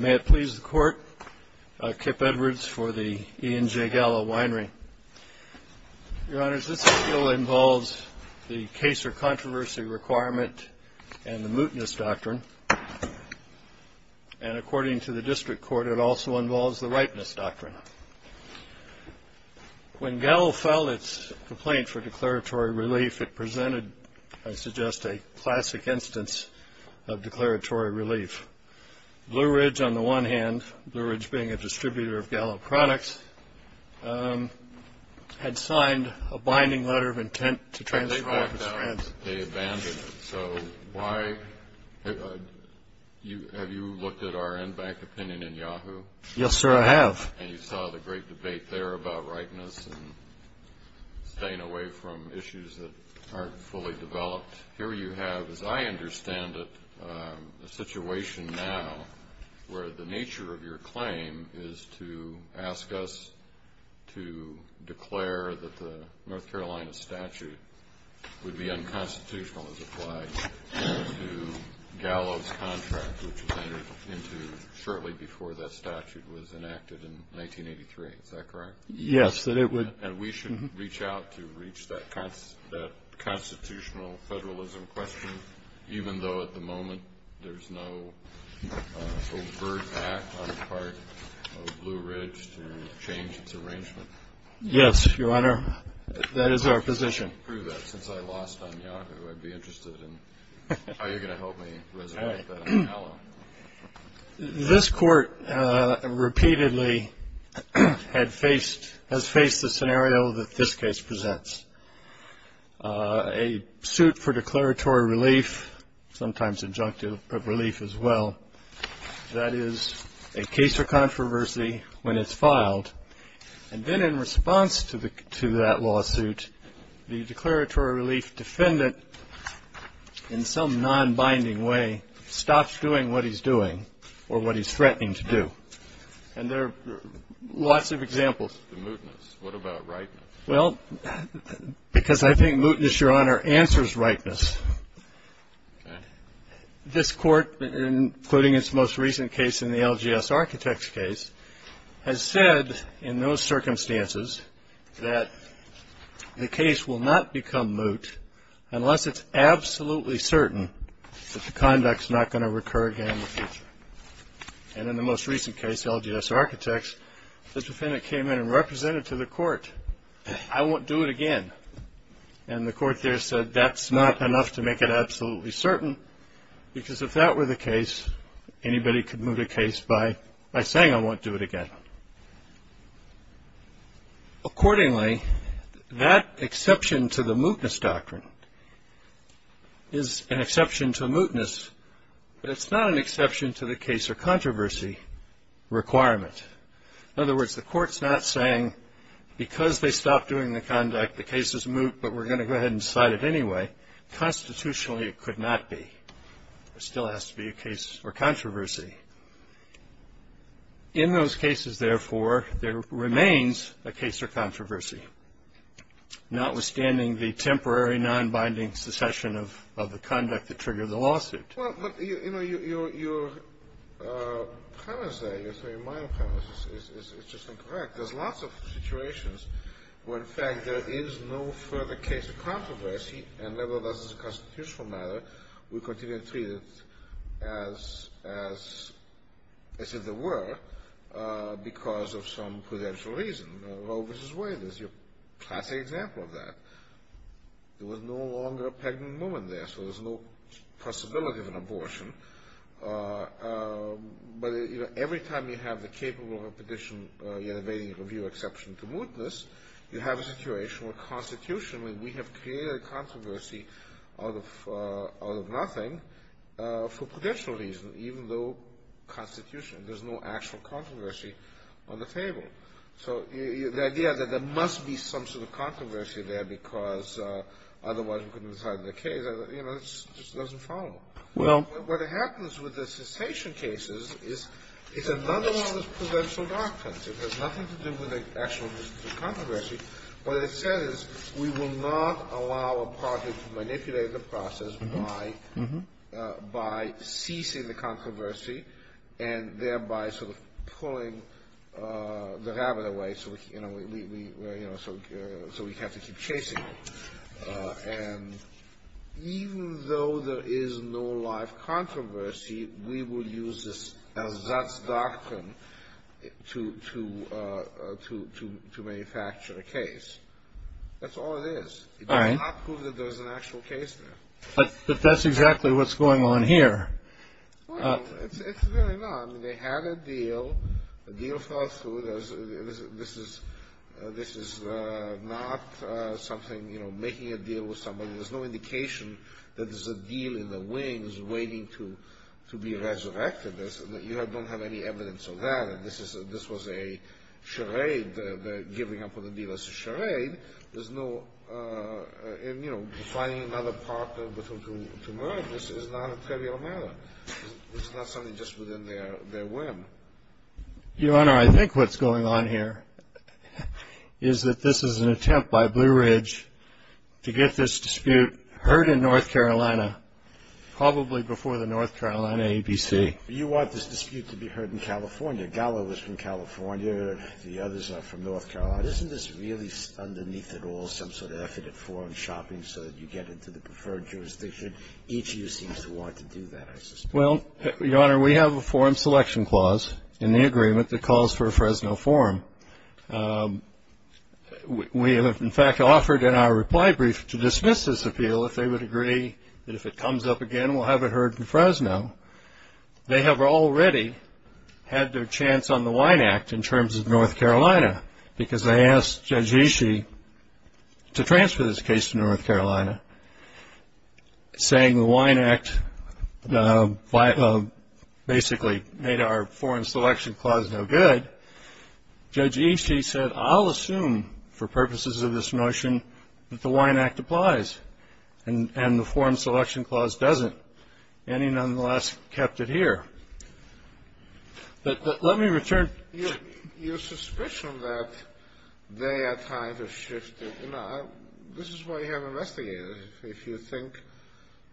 May it please the Court, Kip Edwards for the E and J Gallo Winery. Your Honors, this appeal involves the case or controversy requirement and the mootness doctrine. And according to the District Court, it also involves the ripeness doctrine. When Gallo filed its complaint for declaratory relief, it presented, I suggest, a classic instance of declaratory relief. Blue Ridge, on the one hand, Blue Ridge being a distributor of Gallo products, had signed a binding letter of intent to transfer... But they backed out. They abandoned it. So why... Have you looked at our in-bank opinion in Yahoo? Yes, sir, I have. And you saw the great debate there about ripeness and staying away from issues that aren't fully developed. Here you have, as I understand it, a situation now where the nature of your claim is to ask us to declare that the North Carolina statute would be unconstitutional, as applied to Gallo's contract, which was entered into shortly before that statute was enacted in 1983. Is that correct? Yes, that it would... And we should reach out to reach that constitutional federalism question, even though at the moment there's no overt act on the part of Blue Ridge to change its arrangement? Yes, Your Honor, that is our position. I can't prove that since I lost on Yahoo. I'd be interested in how you're going to help me resonate with that on Gallo. This Court repeatedly has faced the scenario that this case presents. A suit for declaratory relief, sometimes injunctive of relief as well, that is a case for controversy when it's filed. And then in response to that lawsuit, the declaratory relief defendant, in some nonbinding way, stops doing what he's doing or what he's threatening to do. And there are lots of examples. The mootness. What about ripeness? Well, because I think mootness, Your Honor, answers ripeness. Okay. This Court, including its most recent case in the LGS Architects case, has said in those circumstances that the case will not become moot unless it's absolutely certain that the conduct's not going to recur again in the future. And in the most recent case, LGS Architects, the defendant came in and represented to the Court, I won't do it again. And the Court there said that's not enough to make it absolutely certain, because if that were the case, anybody could move the case by saying I won't do it again. Accordingly, that exception to the mootness doctrine is an exception to mootness, but it's not an exception to the case or controversy requirement. In other words, the Court's not saying because they stopped doing the conduct, the case is moot, but we're going to go ahead and decide it anyway. Constitutionally, it could not be. There still has to be a case or controversy. In those cases, therefore, there remains a case or controversy, notwithstanding the temporary nonbinding secession of the conduct that triggered the lawsuit. Well, but, you know, your premise there, your minor premise, is just incorrect. There's lots of situations where, in fact, there is no further case or controversy, and nevertheless, as a constitutional matter, we continue to treat it as if there were, because of some prudential reason. Roe v. Wade is your classic example of that. There was no longer a pregnant woman there, so there's no possibility of an abortion. But, you know, every time you have the capable of a prudential yet evading review exception to mootness, you have a situation where constitutionally we have created a controversy out of nothing for prudential reasons, even though constitutionally there's no actual controversy on the table. So the idea that there must be some sort of controversy there because otherwise we couldn't decide the case, you know, just doesn't follow. Well. What happens with the cessation cases is it's another one of those prudential doctrines. It has nothing to do with the actual controversy. What it says is we will not allow a project to manipulate the process by ceasing the controversy and thereby sort of pulling the rabbit away, you know, so we have to keep chasing it. And even though there is no live controversy, we will use this doctrine to manufacture a case. That's all it is. It does not prove that there's an actual case there. But that's exactly what's going on here. Well, it's really not. I mean, they had a deal. The deal fell through. This is not something, you know, making a deal with somebody. There's no indication that there's a deal in the wings waiting to be resurrected. You don't have any evidence of that. This was a charade, the giving up of the deal as a charade. There's no, you know, finding another partner to murder. This is not a trivial matter. This is not something just within their whim. Your Honor, I think what's going on here is that this is an attempt by Blue Ridge to get this dispute heard in North Carolina, probably before the North Carolina ABC. You want this dispute to be heard in California. Gallo is from California. The others are from North Carolina. Isn't this really underneath it all some sort of effort at foreign shopping so that you get into the preferred jurisdiction? Each of you seems to want to do that, I suspect. Well, Your Honor, we have a forum selection clause in the agreement that calls for a Fresno forum. We have, in fact, offered in our reply brief to dismiss this appeal if they would agree that if it comes up again, we'll have it heard in Fresno. They have already had their chance on the WINE Act in terms of North Carolina because they asked Judge Ishii to transfer this case to North Carolina, saying the WINE Act basically made our forum selection clause no good. Judge Ishii said, I'll assume for purposes of this notion that the WINE Act applies, and the forum selection clause doesn't. And he nonetheless kept it here. But let me return. Your suspicion that they are trying to shift it, you know, this is why you have investigators. If you think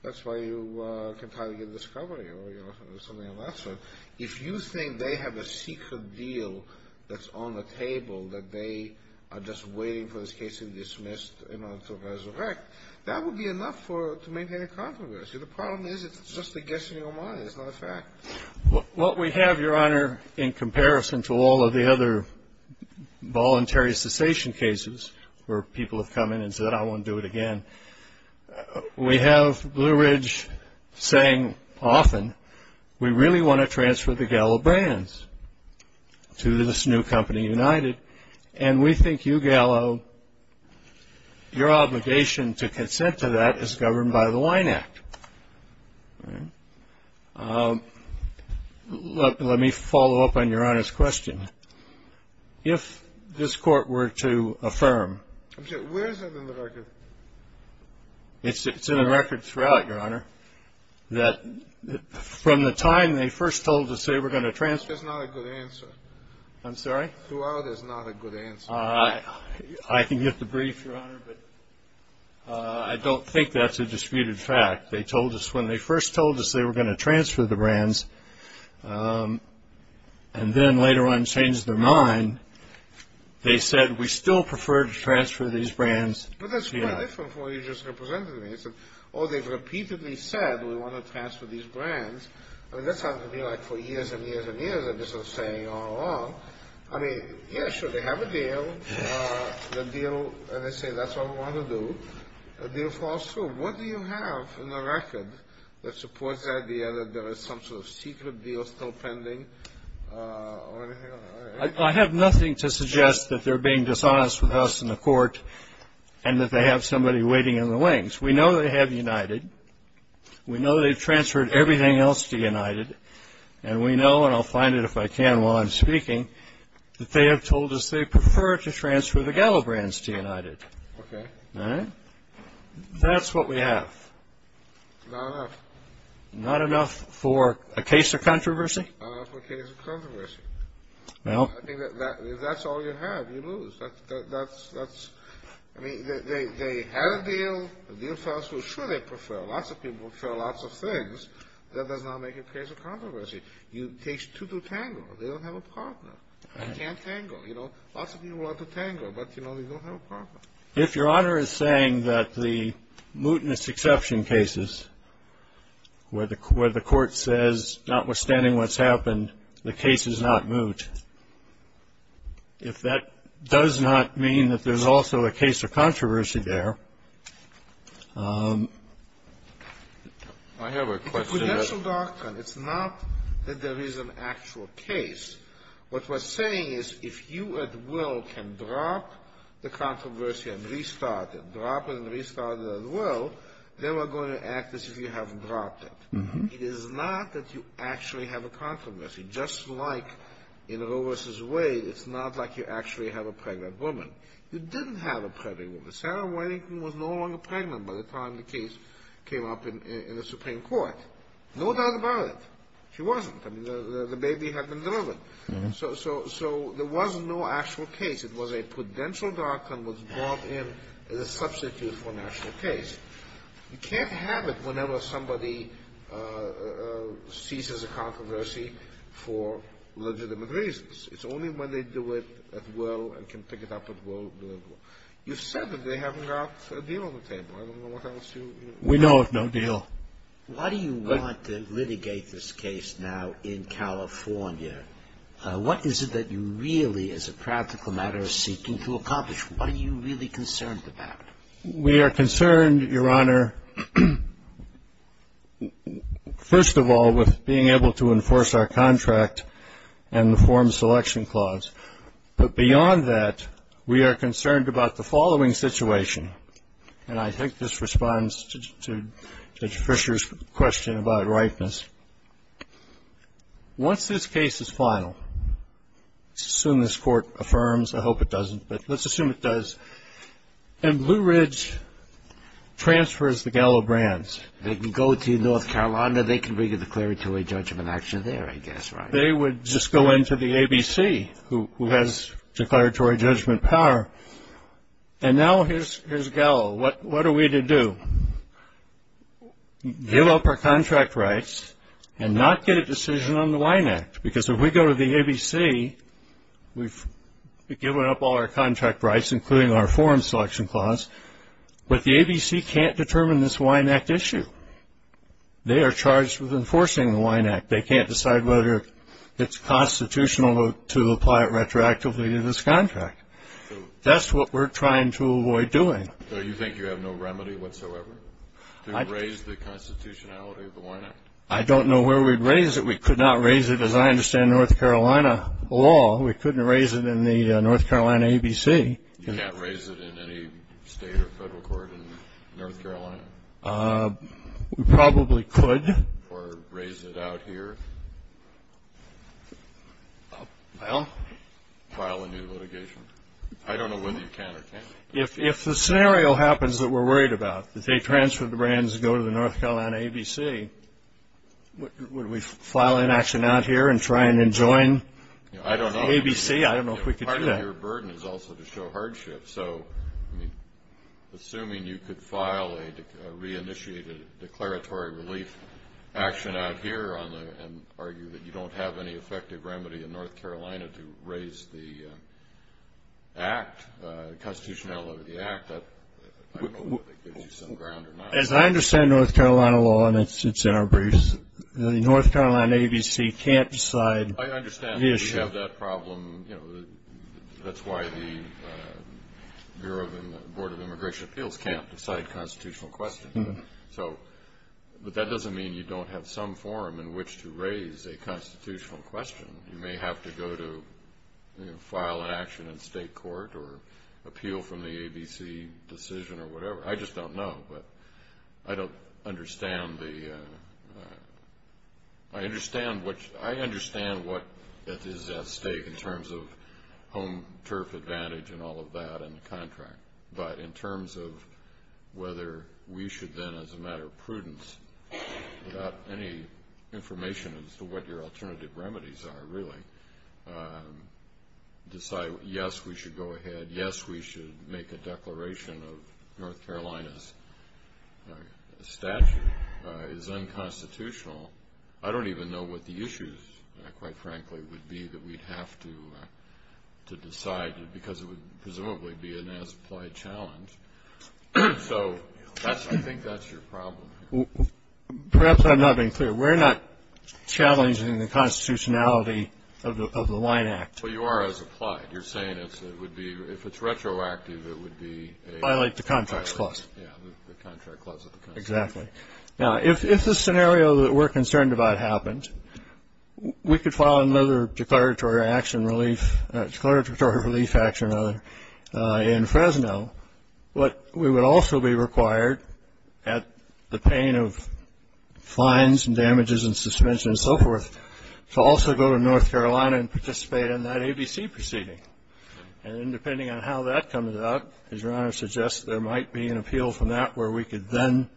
that's why you can try to get a discovery or something of that sort, if you think they have a secret deal that's on the table, that they are just waiting for this case to be dismissed in order to resurrect, that would be enough to maintain a controversy. The problem is it's just a guess in your mind. It's not a fact. What we have, Your Honor, in comparison to all of the other voluntary cessation cases where people have come in and said, I won't do it again, we have Blue Ridge saying often, we really want to transfer the Gallo brands to this new company, United, and we think you, Gallo, your obligation to consent to that is governed by the WINE Act. Let me follow up on Your Honor's question. If this Court were to affirm. Where is it in the record? It's in the record throughout, Your Honor, that from the time they first told us they were going to transfer. That's not a good answer. I'm sorry? Throughout is not a good answer. I can give the brief, Your Honor, but I don't think that's a disputed fact. They told us when they first told us they were going to transfer the brands, and then later on changed their mind. They said we still prefer to transfer these brands to United. But that's quite different from what you just represented me. Oh, they've repeatedly said we want to transfer these brands. I mean, that sounds to me like for years and years and years, they're just sort of saying all along. I mean, yes, sure, they have a deal. The deal, and they say that's what we want to do. The deal falls through. What do you have in the record that supports the idea that there is some sort of secret deal still pending? I have nothing to suggest that they're being dishonest with us in the Court and that they have somebody waiting in the wings. We know they have United. We know they've transferred everything else to United, and we know, and I'll find it if I can while I'm speaking, that they have told us they prefer to transfer the Gallo brands to United. Okay. All right? That's what we have. Not enough. Not enough for a case of controversy? Not enough for a case of controversy. Well, I mean, if that's all you have, you lose. I mean, they had a deal. The deal fell through. Sure, they prefer lots of people prefer lots of things. That does not make a case of controversy. It takes two to tangle. They don't have a partner. They can't tangle. You know, lots of people want to tangle, but, you know, they don't have a partner. If Your Honor is saying that the mootness exception cases, where the Court says notwithstanding what's happened, the case is not moot, if that does not mean that there's also a case of controversy there. I have a question. The financial doctrine, it's not that there is an actual case. What we're saying is if you at will can drop the controversy and restart it, drop it and restart it at will, then we're going to act as if you have dropped it. It is not that you actually have a controversy. Just like in Roe v. Wade, it's not like you actually have a pregnant woman. You didn't have a pregnant woman. Sarah Whitington was no longer pregnant by the time the case came up in the Supreme Court. No doubt about it, she wasn't. I mean, the baby had been delivered. So there was no actual case. It was a prudential doctrine that was brought in as a substitute for an actual case. You can't have it whenever somebody seizes a controversy for legitimate reasons. It's only when they do it at will and can pick it up at will. You've said that they haven't got a deal on the table. I don't know what else you know. We know of no deal. Why do you want to litigate this case now in California? What is it that you really, as a practical matter, are seeking to accomplish? What are you really concerned about? We are concerned, Your Honor, first of all, with being able to enforce our contract and the form selection clause. But beyond that, we are concerned about the following situation, and I think this responds to Judge Fischer's question about ripeness. Once this case is final, assume this Court affirms, I hope it doesn't, but let's assume it does, and Blue Ridge transfers the Gallo brands. They can go to North Carolina. They can bring a declaratory judgment action there, I guess, right? They would just go into the ABC, who has declaratory judgment power, and now here's Gallo. What are we to do? Give up our contract rights and not get a decision on the Wine Act, because if we go to the ABC, we've given up all our contract rights, including our form selection clause, but the ABC can't determine this Wine Act issue. They are charged with enforcing the Wine Act. They can't decide whether it's constitutional to apply it retroactively to this contract. That's what we're trying to avoid doing. So you think you have no remedy whatsoever to raise the constitutionality of the Wine Act? I don't know where we'd raise it. We could not raise it, as I understand North Carolina law. We couldn't raise it in the North Carolina ABC. You can't raise it in any state or federal court in North Carolina? We probably could. Or raise it out here? File? File a new litigation. I don't know whether you can or can't. If the scenario happens that we're worried about, if they transfer the brands and go to the North Carolina ABC, would we file an action out here and try and enjoin the ABC? I don't know if we could do that. Part of your burden is also to show hardship. So assuming you could file a reinitiated declaratory relief action out here and argue that you don't have any effective remedy in North Carolina to raise the act, constitutionality of the act, I don't know if that gives you some ground or not. As I understand North Carolina law, and it's in our briefs, the North Carolina ABC can't decide the issue. I understand that you have that problem. That's why the Board of Immigration Appeals can't decide constitutional questions. But that doesn't mean you don't have some forum in which to raise a constitutional question. You may have to go to file an action in state court or appeal from the ABC decision or whatever. I just don't know. But I don't understand the – I understand what is at stake in terms of home turf advantage and all of that and the contract. But in terms of whether we should then, as a matter of prudence, without any information as to what your alternative remedies are really, decide, yes, we should go ahead, yes, we should make a declaration of North Carolina's statute is unconstitutional, I don't even know what the issues, quite frankly, would be that we'd have to decide because it would presumably be an as-applied challenge. So I think that's your problem. Perhaps I'm not being clear. We're not challenging the constitutionality of the Wine Act. Well, you are as applied. You're saying it would be – if it's retroactive, it would be a – Violate the contract clause. Yeah, the contract clause of the Constitution. Exactly. Now, if the scenario that we're concerned about happened, we could file another declaratory action relief – declaratory relief action in Fresno, but we would also be required at the pain of fines and damages and suspension and so forth to also go to North Carolina and participate in that ABC proceeding. And then depending on how that comes out, as Your Honor suggests, there might be an appeal from that where we could then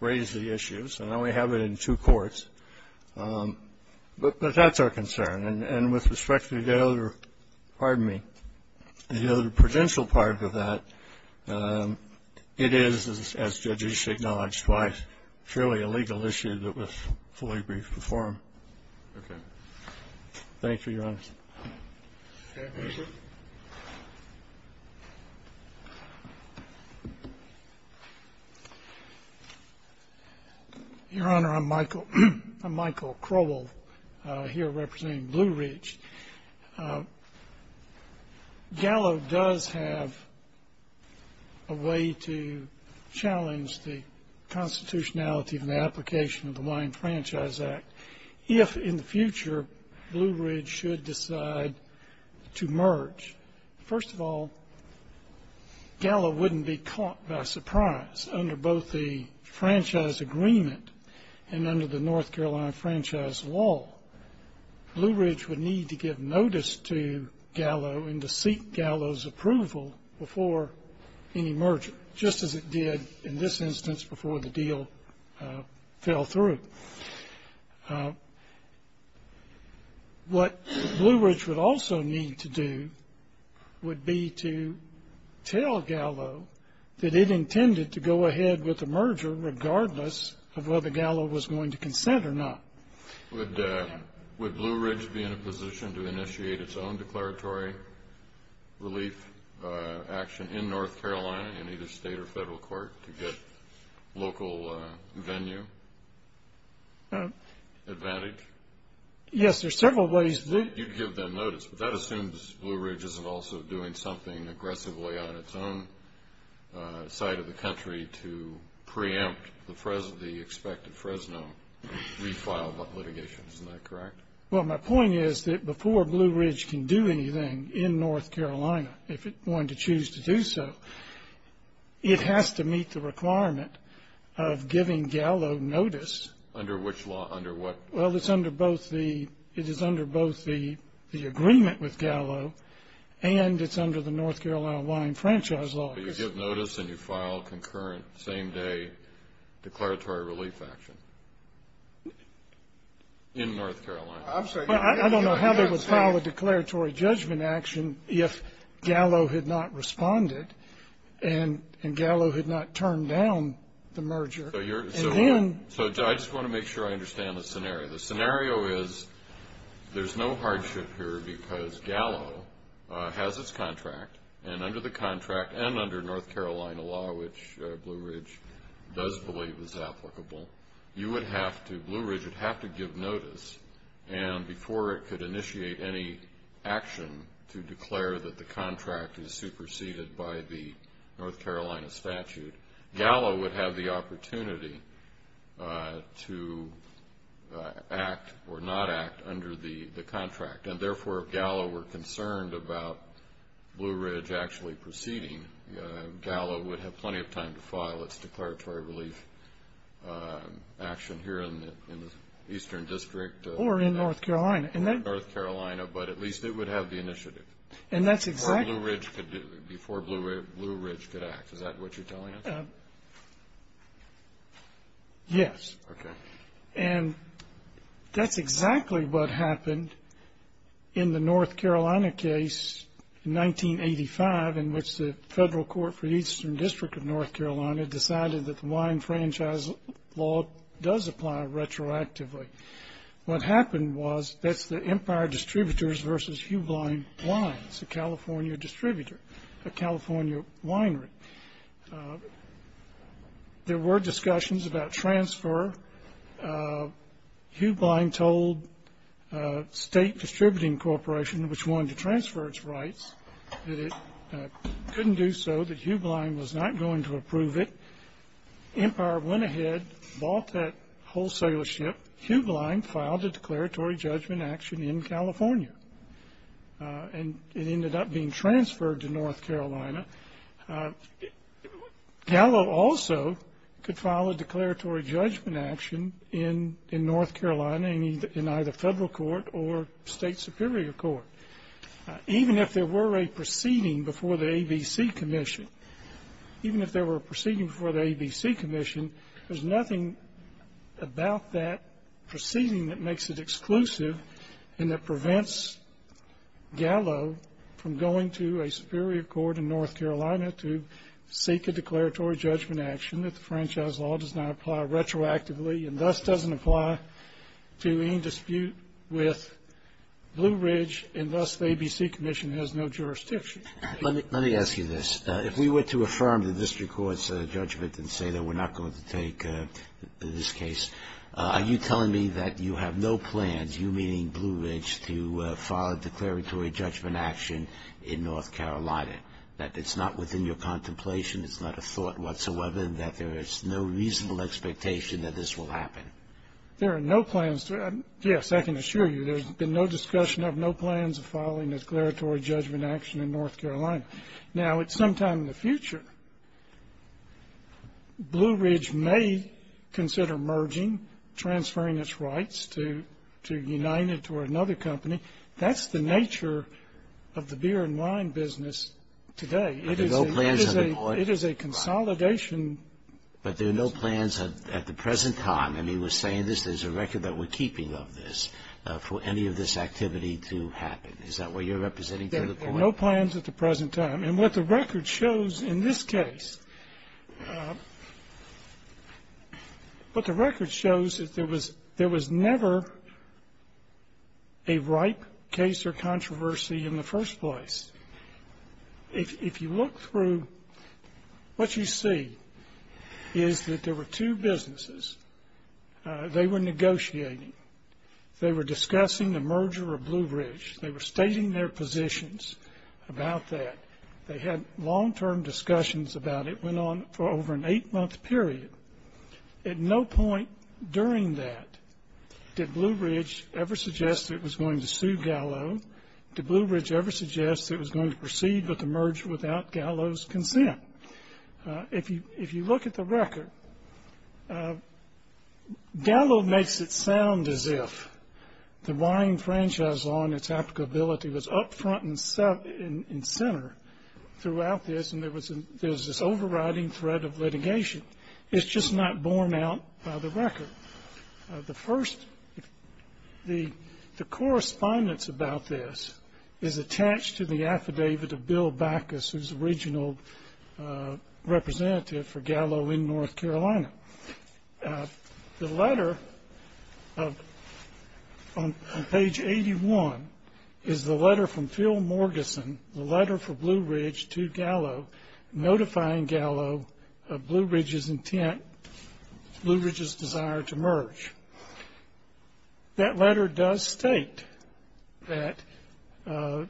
raise the issues. And now we have it in two courts. But that's our concern. And with respect to the other – pardon me – the other prudential part of that, it is, as judges acknowledged twice, fairly a legal issue that was fully briefed before him. Okay. Thank you, Your Honor. Thank you. Your Honor, I'm Michael Crowell here representing Blue Ridge. Gallo does have a way to challenge the constitutionality of an application of the Lyon Franchise Act if in the future Blue Ridge should decide to merge. First of all, Gallo wouldn't be caught by surprise under both the franchise agreement and under the North Carolina Franchise Law. Blue Ridge would need to give notice to Gallo and to seek Gallo's approval before any merger, just as it did in this instance before the deal fell through. What Blue Ridge would also need to do would be to tell Gallo that it intended to go ahead with the merger, regardless of whether Gallo was going to consent or not. Would Blue Ridge be in a position to initiate its own declaratory relief action in North Carolina, in either state or federal court, to get local venue advantage? Yes, there are several ways. You'd give them notice, but that assumes Blue Ridge isn't also doing something aggressively on its own side of the country to preempt the expected Fresno refile litigation. Isn't that correct? Well, my point is that before Blue Ridge can do anything in North Carolina, if it's going to choose to do so, it has to meet the requirement of giving Gallo notice. Under which law? Under what? Well, it is under both the agreement with Gallo and it's under the North Carolina Lyon Franchise Law. But you give notice and you file concurrent same-day declaratory relief action in North Carolina. I don't know how they would file a declaratory judgment action if Gallo had not responded and Gallo had not turned down the merger. So I just want to make sure I understand the scenario. The scenario is there's no hardship here because Gallo has its contract, and under the contract and under North Carolina law, which Blue Ridge does believe is applicable, Blue Ridge would have to give notice. And before it could initiate any action to declare that the contract is superseded by the North Carolina statute, Gallo would have the opportunity to act or not act under the contract. And therefore, if Gallo were concerned about Blue Ridge actually proceeding, Gallo would have plenty of time to file its declaratory relief action here in the Eastern District. Or in North Carolina. Or in North Carolina, but at least it would have the initiative. And that's exactly... Before Blue Ridge could act. Is that what you're telling us? Yes. Okay. And that's exactly what happened in the North Carolina case in 1985 in which the Federal Court for the Eastern District of North Carolina decided that the wine franchise law does apply retroactively. What happened was that's the Empire Distributors v. Hugh Blind Wines, a California distributor, a California winery. And there were discussions about transfer. Hugh Blind told State Distributing Corporation, which wanted to transfer its rights, that it couldn't do so, that Hugh Blind was not going to approve it. Empire went ahead, bought that wholesalership. Hugh Blind filed a declaratory judgment action in California. And it ended up being transferred to North Carolina. Gallo also could file a declaratory judgment action in North Carolina in either Federal Court or State Superior Court. Even if there were a proceeding before the ABC Commission, there's nothing about that proceeding that makes it exclusive and that prevents Gallo from going to a Superior Court in North Carolina to seek a declaratory judgment action that the franchise law does not apply retroactively and thus doesn't apply to any dispute with Blue Ridge, and thus the ABC Commission has no jurisdiction. Let me ask you this. If we were to affirm the district court's judgment and say that we're not going to take this case, are you telling me that you have no plans, you meaning Blue Ridge, to file a declaratory judgment action in North Carolina, that it's not within your contemplation, it's not a thought whatsoever, and that there is no reasonable expectation that this will happen? There are no plans to. Yes, I can assure you there's been no discussion of no plans of filing a declaratory judgment action in North Carolina. Now, at some time in the future, Blue Ridge may consider merging, transferring its rights to United or another company. That's the nature of the beer and wine business today. It is a consolidation. But there are no plans at the present time, and he was saying this, there's a record that we're keeping of this, for any of this activity to happen. Is that what you're representing to the point? No plans at the present time. And what the record shows in this case, what the record shows is there was never a ripe case or controversy in the first place. If you look through, what you see is that there were two businesses. They were negotiating. They were discussing the merger of Blue Ridge. They were stating their positions about that. They had long-term discussions about it. It went on for over an eight-month period. At no point during that did Blue Ridge ever suggest it was going to sue Gallo. Did Blue Ridge ever suggest it was going to proceed with the merger without Gallo's consent? If you look at the record, Gallo makes it sound as if the wine franchise law and its applicability was up front and center throughout this, and there was this overriding threat of litigation. It's just not borne out by the record. The correspondence about this is attached to the affidavit of Bill Backus, who's the regional representative for Gallo in North Carolina. The letter on page 81 is the letter from Phil Morgison, the letter for Blue Ridge to Gallo, notifying Gallo of Blue Ridge's intent, Blue Ridge's desire to merge. That letter does state that the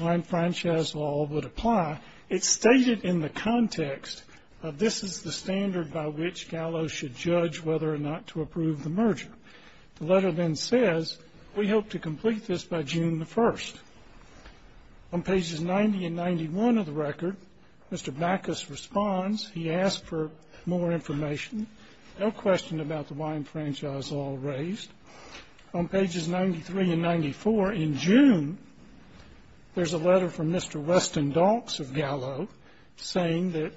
wine franchise law would apply. It's stated in the context of this is the standard by which Gallo should judge whether or not to approve the merger. The letter then says, we hope to complete this by June the 1st. On pages 90 and 91 of the record, Mr. Backus responds. He asks for more information. No question about the wine franchise law raised. On pages 93 and 94, in June, there's a letter from Mr. Weston Dawks of Gallo saying that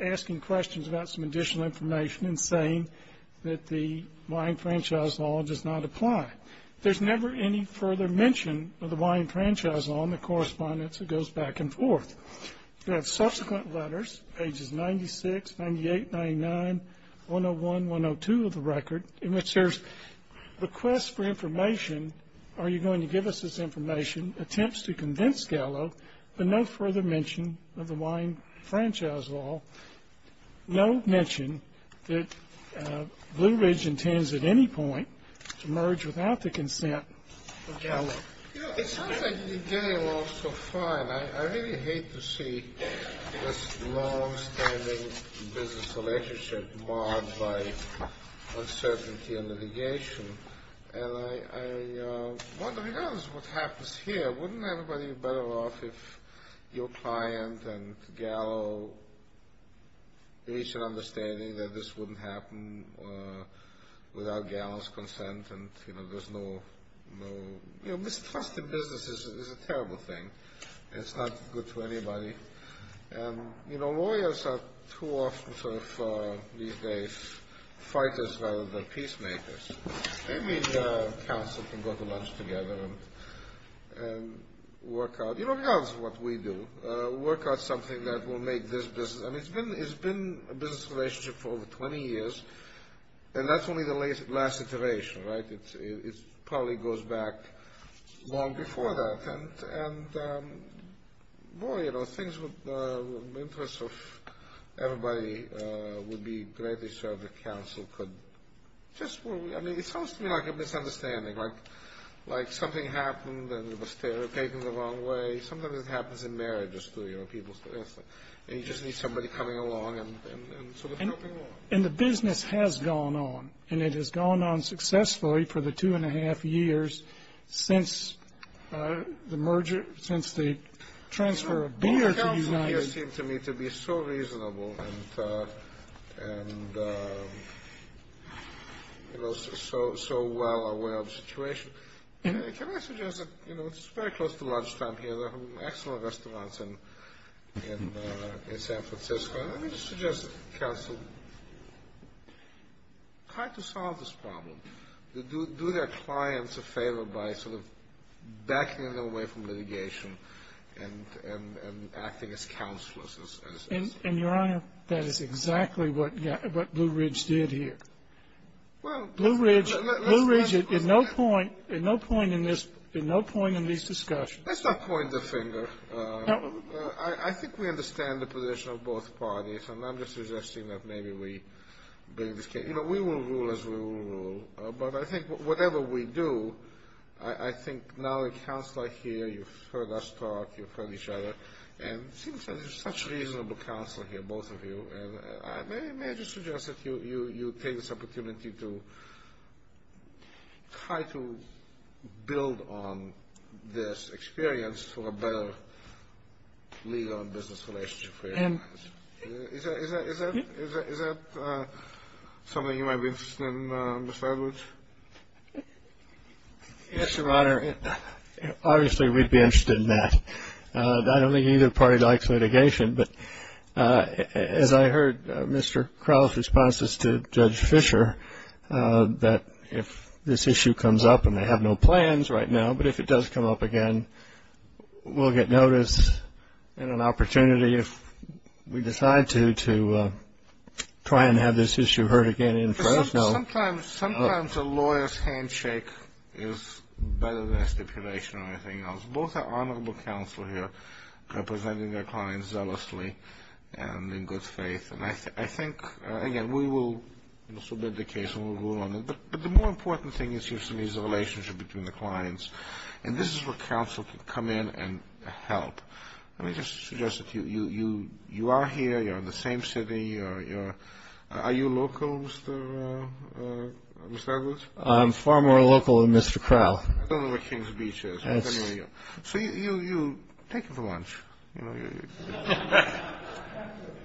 asking questions about some additional information and saying that the wine franchise law does not apply. There's never any further mention of the wine franchise law in the correspondence that goes back and forth. You have subsequent letters, pages 96, 98, 99, 101, 102 of the record, in which there's requests for information, are you going to give us this information, attempts to convince Gallo, but no further mention of the wine franchise law, no mention that Blue Ridge intends at any point to merge without the consent of Gallo. You know, it sounds like you're getting along so fine. I really hate to see this longstanding business relationship marred by uncertainty and litigation. And I wonder, regardless of what happens here, wouldn't everybody be better off if your client and Gallo reached an understanding that this wouldn't happen without Gallo's consent and, you know, there's no, you know, mistrust in business is a terrible thing. It's not good for anybody. And, you know, lawyers are too often sort of these days fighters rather than peacemakers. Maybe the counsel can go to lunch together and work out, you know, that's what we do, work out something that will make this business, I mean, it's been a business relationship for over 20 years, and that's only the last iteration, right? It probably goes back long before that. And, boy, you know, things would interest of everybody would be greatly served if counsel could just, I mean, it sounds to me like a misunderstanding, like something happened and it was taken the wrong way. Sometimes it happens in marriages too, you know, people, and you just need somebody coming along and sort of helping along. And the business has gone on, and it has gone on successfully for the two-and-a-half years since the merger, since the transfer of beer to United. The counsel here seems to me to be so reasonable and, you know, so well aware of the situation. Can I suggest that, you know, it's very close to lunchtime here. There are excellent restaurants in San Francisco. Let me just suggest, counsel, try to solve this problem. Do their clients a favor by sort of backing them away from litigation and acting as counselors. And, Your Honor, that is exactly what Blue Ridge did here. Blue Ridge, in no point in this, in no point in these discussions. Let's not point the finger. I think we understand the position of both parties. And I'm just suggesting that maybe we bring this case. You know, we will rule as we will rule. But I think whatever we do, I think now a counselor here, you've heard us talk. You've heard each other. And it seems there's such reasonable counsel here, both of you. May I just suggest that you take this opportunity to try to build on this experience for a better legal and business relationship for your clients. Is that something you might be interested in, Mr. Edwards? Yes, Your Honor. Obviously, we'd be interested in that. I don't think either party likes litigation. But as I heard Mr. Crowell's responses to Judge Fisher, that if this issue comes up, and they have no plans right now, but if it does come up again, we'll get notice and an opportunity if we decide to, to try and have this issue heard again in Fresno. Sometimes a lawyer's handshake is better than a stipulation or anything else. Both are honorable counsel here, representing their clients zealously and in good faith. And I think, again, we will submit the case and we'll rule on it. But the more important thing, it seems to me, is the relationship between the clients. And this is where counsel can come in and help. Let me just suggest that you are here. You're in the same city. Are you local, Mr. Edwards? I'm far more local than Mr. Crowell. I don't know where Kings Beach is. So you take the lunch. I have to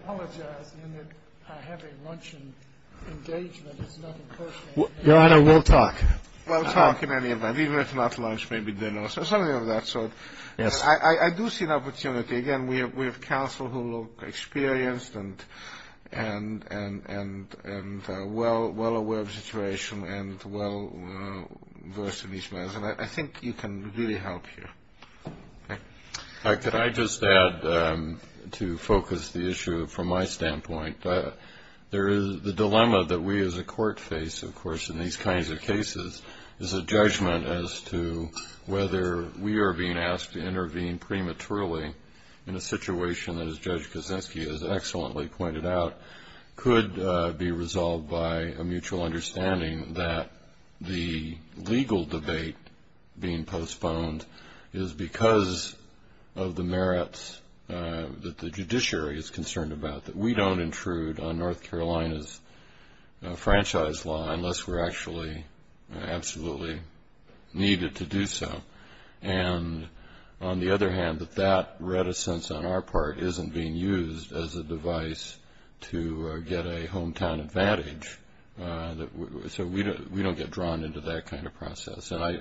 apologize in that I have a luncheon engagement. It's not a personal thing. Your Honor, we'll talk. We'll talk in any event, even if not lunch, maybe dinner or something of that sort. I do see an opportunity. Again, we have counsel who look experienced and well aware of the situation and well versed in these matters. And I think you can really help here. Could I just add, to focus the issue from my standpoint, the dilemma that we as a court face, of course, in these kinds of cases, is a judgment as to whether we are being asked to intervene prematurely in a situation that, as Judge Kosinski has excellently pointed out, could be resolved by a mutual understanding that the legal debate being postponed is because of the merits that the judiciary is concerned about, that we don't intrude on North Carolina's franchise law unless we're actually absolutely needed to do so. And on the other hand, that that reticence on our part isn't being used as a device to get a hometown advantage. So we don't get drawn into that kind of process. And I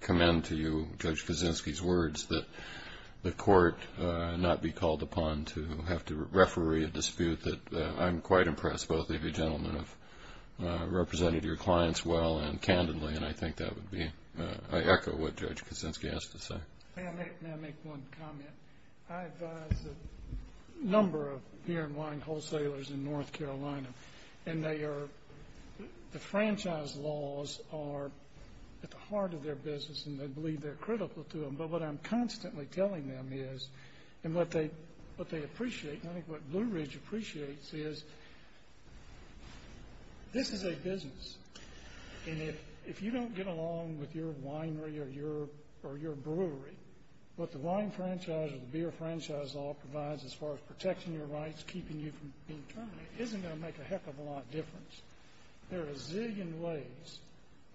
commend to you Judge Kosinski's words that the court not be called upon to have to referee a dispute, that I'm quite impressed both of you gentlemen have represented your clients well and candidly, and I think that would be, I echo what Judge Kosinski has to say. May I make one comment? I advise a number of beer and wine wholesalers in North Carolina, and they are, the franchise laws are at the heart of their business, and they believe they're critical to them, but what I'm constantly telling them is, and what they appreciate, and I think what Blue Ridge appreciates is, this is a business, and if you don't get along with your winery or your brewery, what the wine franchise or the beer franchise law provides as far as protecting your rights, keeping you from being terminated, isn't going to make a heck of a lot of difference. There are a zillion ways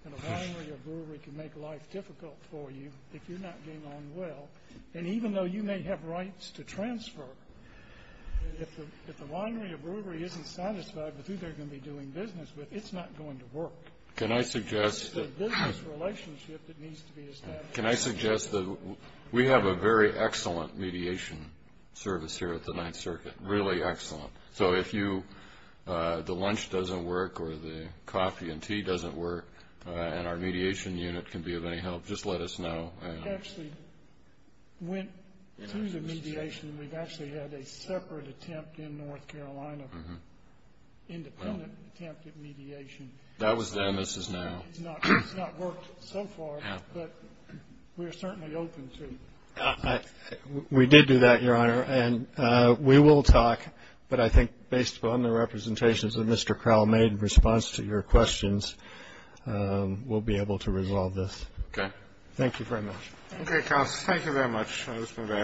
that a winery or brewery can make life difficult for you if you're not getting along well, and even though you may have rights to transfer, if the winery or brewery isn't satisfied with who they're going to be doing business with, it's not going to work. It's the business relationship that needs to be established. Can I suggest that we have a very excellent mediation service here at the Ninth Circuit, really excellent. So if you, the lunch doesn't work or the coffee and tea doesn't work, and our mediation unit can be of any help, just let us know. We actually went through the mediation. We've actually had a separate attempt in North Carolina, independent attempt at mediation. That was then. This is now. It's not worked so far, but we're certainly open to it. We did do that, Your Honor, and we will talk, but I think based upon the representations that Mr. Crowell made in response to your questions, we'll be able to resolve this. Okay. Thank you very much. Okay, counsel. Thank you very much. That has been very helpful.